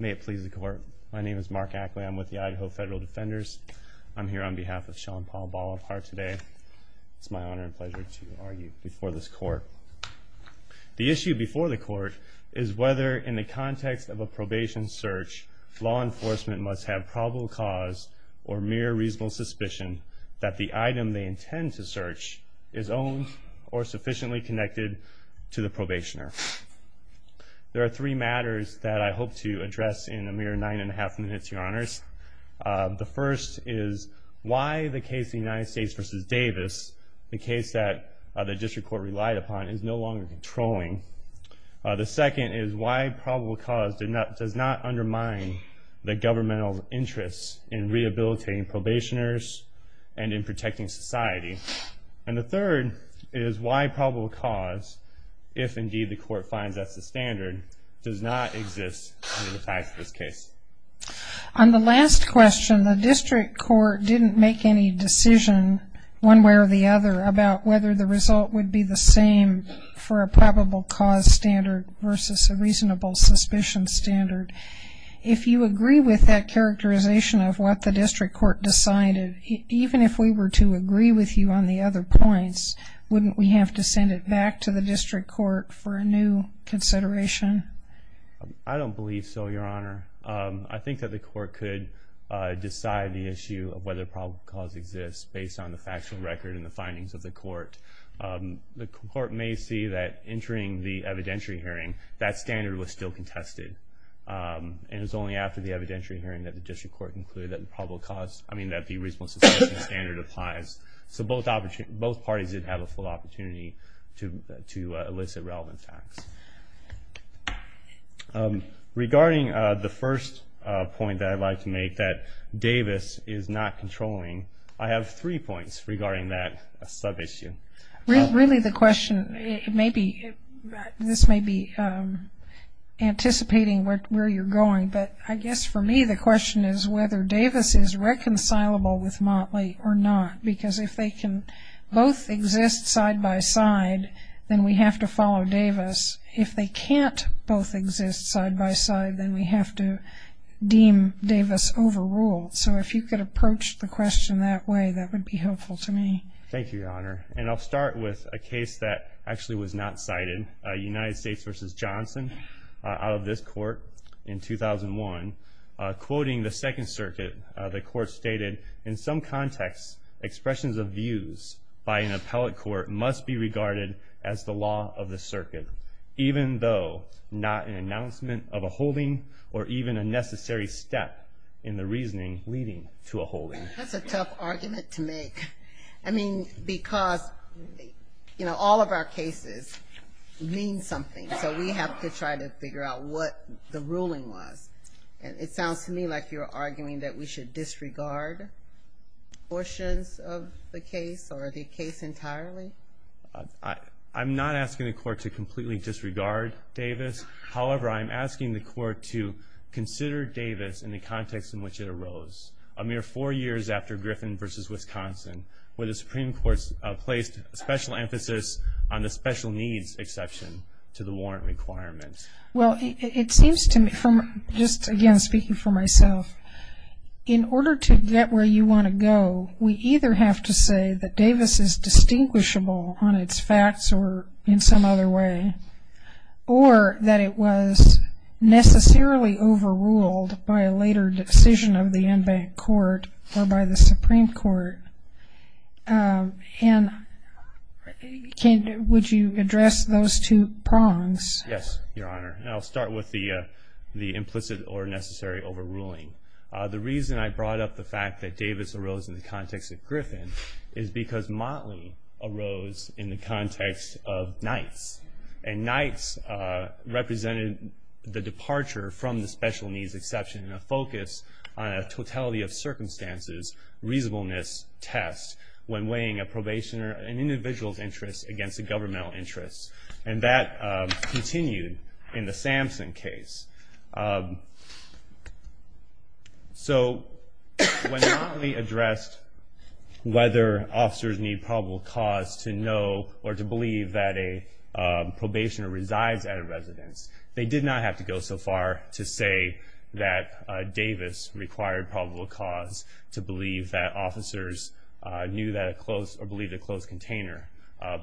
May it please the court. My name is Mark Ackley. I'm with the Idaho Federal Defenders. I'm here on behalf of Sean Paul Bolivar today. It's my honor and pleasure to argue before this court. The issue before the court is whether, in the context of a probation search, law enforcement must have probable cause or mere reasonable suspicion that the item they intend to search is owned or sufficiently connected to the probationer. There are three matters that I hope to address in a mere nine and a half minutes, your honors. The first is why the case of the United States v. Davis, the case that the district court relied upon, is no longer controlling. The second is why probable cause does not undermine the governmental interests in rehabilitating probationers and in protecting society. And the third is why probable cause, if indeed the court finds that's the standard, does not exist under the facts of this case. On the last question, the district court didn't make any decision, one way or the other, about whether the result would be the same for a probable cause standard versus a reasonable suspicion standard. If you agree with that characterization of what the district court decided, even if we were to agree with you on the other points, wouldn't we have to send it back to the district court for a new consideration? I don't believe so, your honor. I think that the court could decide the issue of whether probable cause exists based on the factual record and the findings of the court. The court may see that entering the evidentiary hearing, that standard was still contested. And it was only after the evidentiary hearing that the district court concluded that the reasonable suspicion standard applies. So both parties did have a full opportunity to elicit relevant facts. Regarding the first point that I'd like to make, that Davis is not controlling, I have three points regarding that sub-issue. Really the question may be, this may be anticipating where you're going, but I guess for me the question is whether Davis is reconcilable with Motley or not. Because if they can both exist side-by-side, then we have to follow Davis. If they can't both exist side-by-side, then we have to deem Davis overruled. So if you could approach the question that way, that would be helpful to me. Thank you, your honor. And I'll start with a case that actually was not cited, United States v. Johnson, out of this court in 2001. Quoting the Second Circuit, the court stated, in some contexts expressions of views by an appellate court must be regarded as the law of the circuit, even though not an announcement of a holding or even a necessary step in the reasoning leading to a holding. That's a tough argument to make. I mean, because, you know, all of our cases mean something. So we have to try to figure out what the ruling was. It sounds to me like you're arguing that we should disregard portions of the case or the case entirely. I'm not asking the court to completely disregard Davis. However, I'm asking the court to consider Davis in the context in which it arose, a mere four years after Griffin v. Wisconsin, where the Supreme Court placed special emphasis on the special needs exception to the warrant requirements. Well, it seems to me, just again speaking for myself, in order to get where you want to go, we either have to say that Davis is distinguishable on its facts or in some other way, or that it was necessarily overruled by a later decision of the en banc court or by the Supreme Court. And would you address those two prongs? Yes, Your Honor. I'll start with the implicit or necessary overruling. The reason I brought up the fact that Davis arose in the context of Griffin is because Motley arose in the context of Nights. And Nights represented the departure from the special needs exception in a focus on a totality of circumstances reasonableness test when weighing a probationer, an individual's interest against a governmental interest. And that continued in the Samson case. So when Motley addressed whether officers need probable cause to know or to believe that a probationer resides at a residence, they did not have to go so far to say that Davis required probable cause to believe that officers knew that a closed or believed a closed container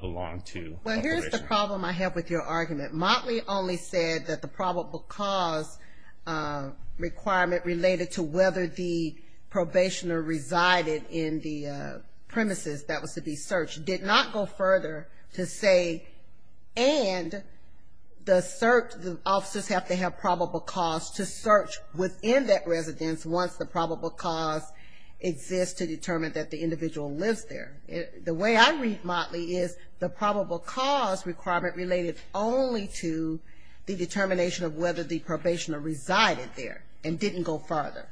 belonged to a prison. Well, here's the problem I have with your argument. Motley only said that the probable cause requirement related to whether the probationer resided in the premises that was to be searched did not go further to say, and the officers have to have probable cause to search within that residence once the probable cause exists to determine that the individual lives there. The way I read Motley is the probable cause requirement related only to the determination of whether the probationer resided there and didn't go further.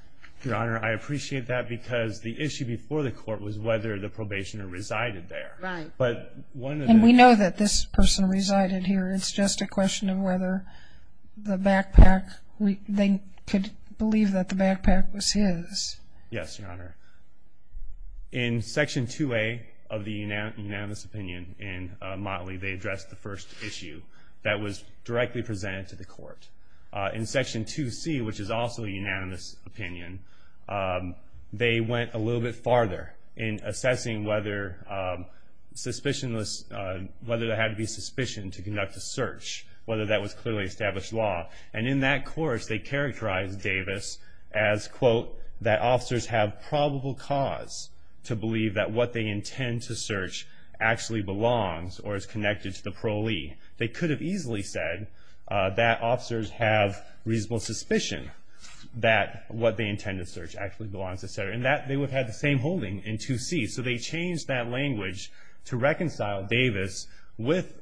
Your Honor, I appreciate that because the issue before the court was whether the probationer resided there. Right. And we know that this person resided here. It's just a question of whether the backpack, they could believe that the backpack was his. Yes, Your Honor. In Section 2A of the unanimous opinion in Motley, they addressed the first issue that was directly presented to the court. In Section 2C, which is also a unanimous opinion, they went a little bit farther in assessing whether there had to be suspicion to conduct a search, whether that was clearly established law. And in that course, they characterized Davis as, quote, that officers have probable cause to believe that what they intend to search actually belongs or is connected to the parolee. They could have easily said that officers have reasonable suspicion that what they intend to search actually belongs, et cetera, and that they would have had the same holding in 2C. So they changed that language to reconcile Davis with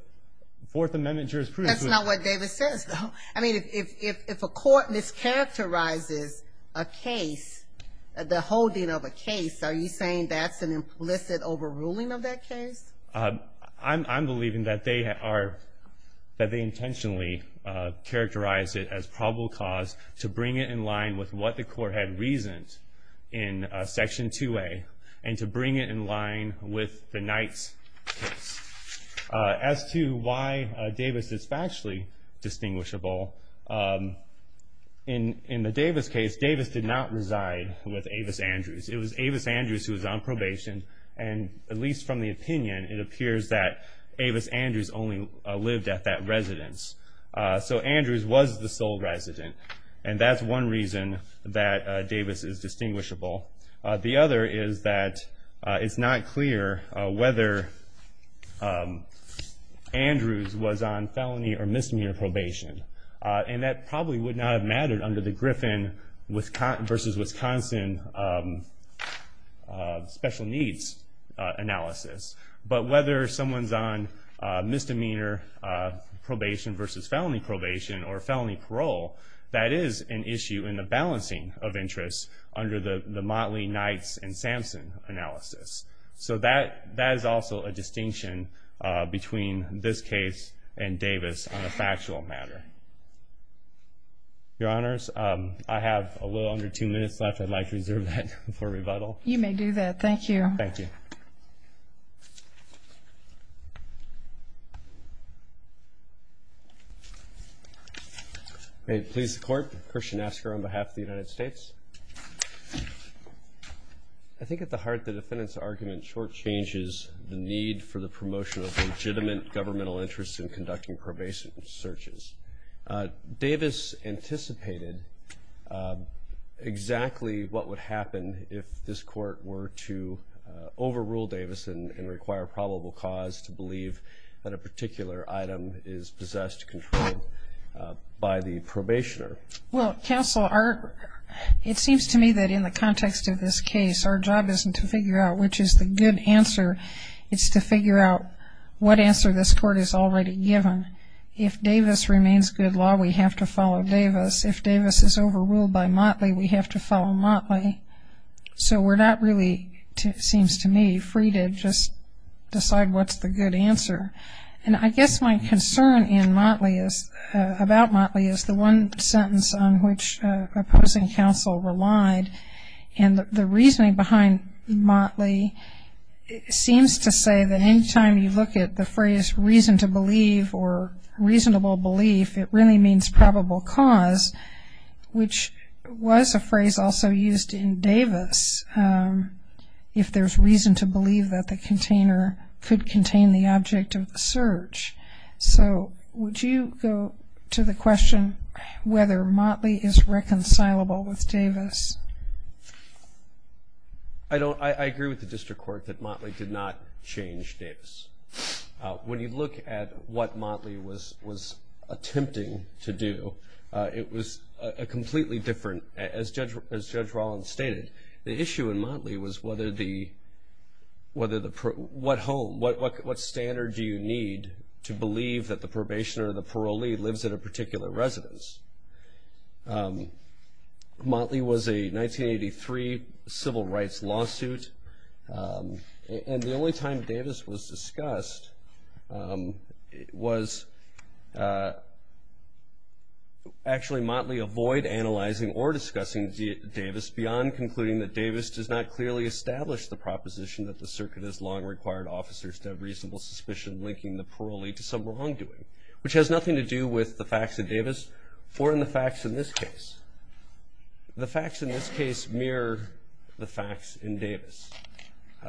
Fourth Amendment jurisprudence. That's not what Davis says, though. I mean, if a court mischaracterizes a case, the holding of a case, are you saying that's an implicit overruling of that case? I'm believing that they intentionally characterized it as probable cause to bring it in line with what the court had reasoned in Section 2A and to bring it in line with the Knight's case. As to why Davis is factually distinguishable, in the Davis case, Davis did not reside with Avis Andrews. It was Avis Andrews who was on probation, and at least from the opinion, it appears that Avis Andrews only lived at that residence. So Andrews was the sole resident, and that's one reason that Davis is distinguishable. The other is that it's not clear whether Andrews was on felony or misdemeanor probation, and that probably would not have mattered under the Griffin versus Wisconsin special needs analysis. But whether someone's on misdemeanor probation versus felony probation or felony parole, that is an issue in the balancing of interests under the Motley, Knight's, and Samson analysis. So that is also a distinction between this case and Davis on a factual matter. Your Honors, I have a little under two minutes left. I'd like to reserve that for rebuttal. You may do that. Thank you. Thank you. Thank you. May it please the Court, Christian Asker on behalf of the United States. I think at the heart of the defendant's argument shortchanges the need for the promotion of legitimate governmental interests in conducting probation searches. Davis anticipated exactly what would happen if this court were to overrule Davis and require probable cause to believe that a particular item is possessed, controlled by the probationer. Well, counsel, it seems to me that in the context of this case, our job isn't to figure out which is the good answer. It's to figure out what answer this court has already given. If Davis remains good law, we have to follow Davis. If Davis is overruled by Motley, we have to follow Motley. So we're not really, it seems to me, free to just decide what's the good answer. And I guess my concern about Motley is the one sentence on which opposing counsel relied. And the reasoning behind Motley seems to say that any time you look at the phrase reason to believe or reasonable belief, it really means probable cause, which was a phrase also used in Davis, if there's reason to believe that the container could contain the object of the search. So would you go to the question whether Motley is reconcilable with Davis? I agree with the district court that Motley did not change Davis. When you look at what Motley was attempting to do, it was a completely different, as Judge Rollins stated, the issue in Motley was what standard do you need to believe that the probationer or the parolee lives at a particular residence? Motley was a 1983 civil rights lawsuit. And the only time Davis was discussed was actually Motley avoid analyzing or discussing Davis beyond concluding that Davis does not clearly establish the proposition that the circuit has long required officers to have reasonable suspicion linking the parolee to some wrongdoing, which has nothing to do with the facts of Davis or in the facts in this case. The facts in this case mirror the facts in Davis.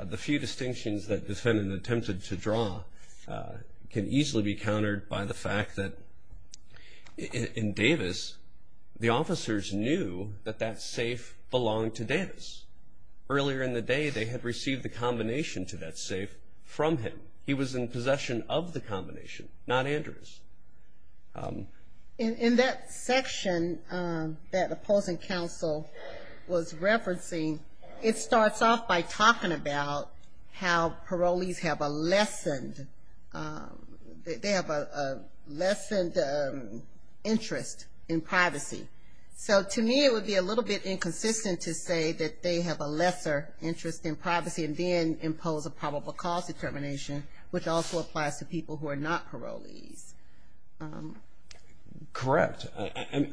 The few distinctions that defendant attempted to draw can easily be countered by the fact that in Davis, the officers knew that that safe belonged to Davis. Earlier in the day, they had received the combination to that safe from him. He was in possession of the combination, not Andrews. In that section that opposing counsel was referencing, it starts off by talking about how parolees have a lessened interest in privacy, so to me it would be a little bit inconsistent to say that they have a lesser interest in privacy and then impose a probable cause determination, which also applies to people who are not parolees. Correct.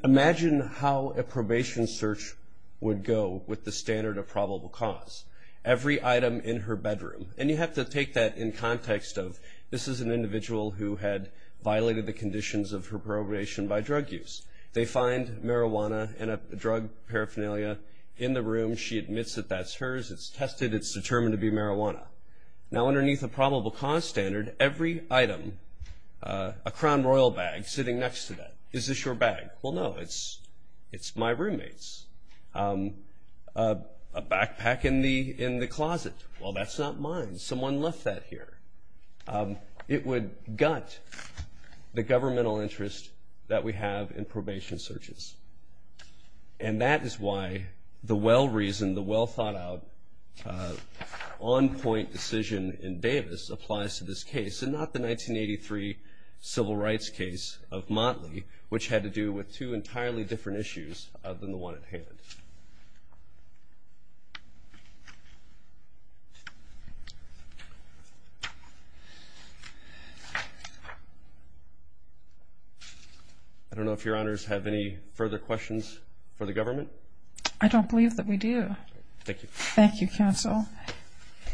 Imagine how a probation search would go with the standard of probable cause. Every item in her bedroom, and you have to take that in context of this is an individual who had violated the conditions of her probation by drug use. They find marijuana and a drug paraphernalia in the room. She admits that that's hers. It's tested. It's determined to be marijuana. Now, underneath a probable cause standard, every item, a Crown Royal bag sitting next to that, is this your bag? Well, no, it's my roommate's. A backpack in the closet, well, that's not mine. Someone left that here. It would gut the governmental interest that we have in probation searches, and that is why the well-reasoned, the well-thought-out, on-point decision in Davis applies to this case and not the 1983 civil rights case of Motley, which had to do with two entirely different issues other than the one at hand. I don't know if Your Honors have any further questions for the government. I don't believe that we do. Thank you. Thank you, Counsel.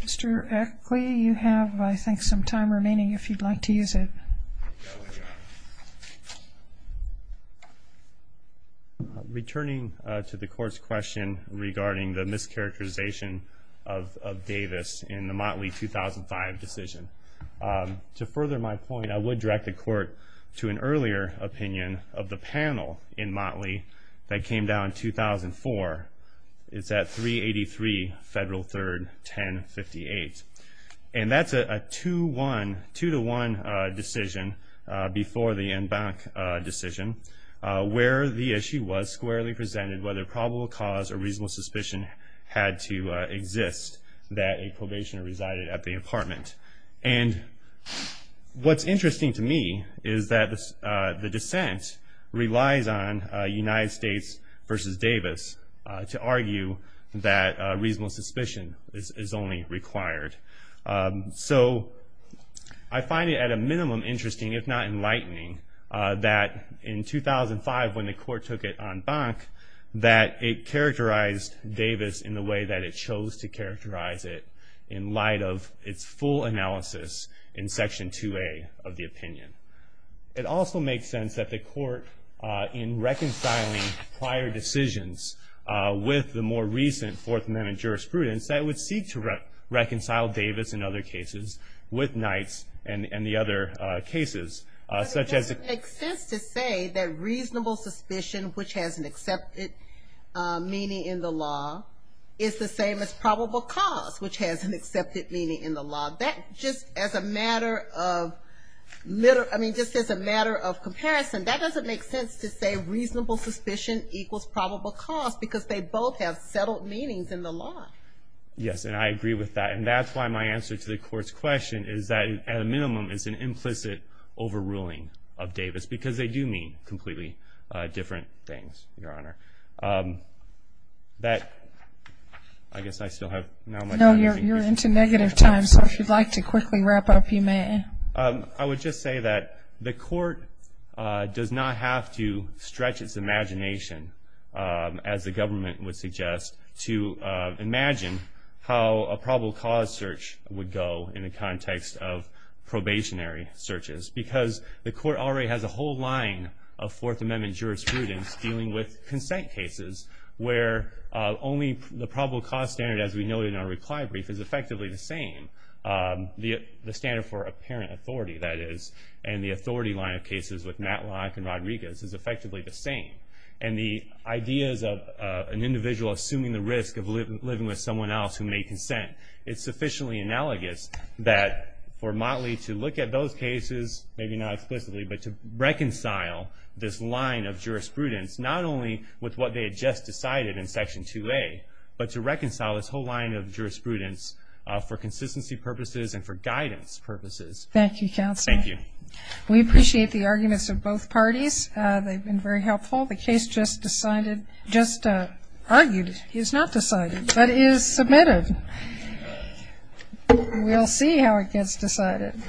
Mr. Eckley, you have, I think, some time remaining if you'd like to use it. Returning to the Court's question regarding the mischaracterization of Davis in the Motley 2005 decision, to further my point, I would direct the Court to an earlier opinion of the panel in Motley that came down in 2004. It's at 383 Federal 3rd, 1058. And that's a two-to-one decision before the en banc decision, where the issue was squarely presented whether probable cause or reasonable suspicion had to exist that a probationer resided at the apartment. And what's interesting to me is that the dissent relies on United States v. Davis to argue that reasonable suspicion is only required. So I find it at a minimum interesting, if not enlightening, that in 2005 when the Court took it en banc, that it characterized Davis in the way that it chose to characterize it in light of its full analysis in Section 2A of the opinion. It also makes sense that the Court, in reconciling prior decisions with the more recent Fourth Amendment jurisprudence, that it would seek to reconcile Davis in other cases with Knight's and the other cases, such as It makes sense to say that reasonable suspicion, which has an accepted meaning in the law, is the same as probable cause, which has an accepted meaning in the law. Just as a matter of comparison, that doesn't make sense to say reasonable suspicion equals probable cause because they both have settled meanings in the law. Yes, and I agree with that. And that's why my answer to the Court's question is that at a minimum it's an implicit overruling of Davis because they do mean completely different things, Your Honor. I guess I still have not much time. No, you're into negative time, so if you'd like to quickly wrap up, you may. I would just say that the Court does not have to stretch its imagination, as the government would suggest, to imagine how a probable cause search would go in the context of probationary searches because the Court already has a whole line of Fourth Amendment jurisprudence dealing with consent cases where only the probable cause standard, as we noted in our reply brief, is effectively the same, the standard for apparent authority, that is, and the authority line of cases with Matlock and Rodriguez is effectively the same. And the ideas of an individual assuming the risk of living with someone else who may consent, it's sufficiently analogous that for Motley to look at those cases, maybe not explicitly, but to reconcile this line of jurisprudence not only with what they had just decided in Section 2A, but to reconcile this whole line of jurisprudence for consistency purposes and for guidance purposes. Thank you, Counsel. Thank you. We appreciate the arguments of both parties. They've been very helpful. The case just decided, just argued, is not decided, but is submitted. We'll see how it gets decided.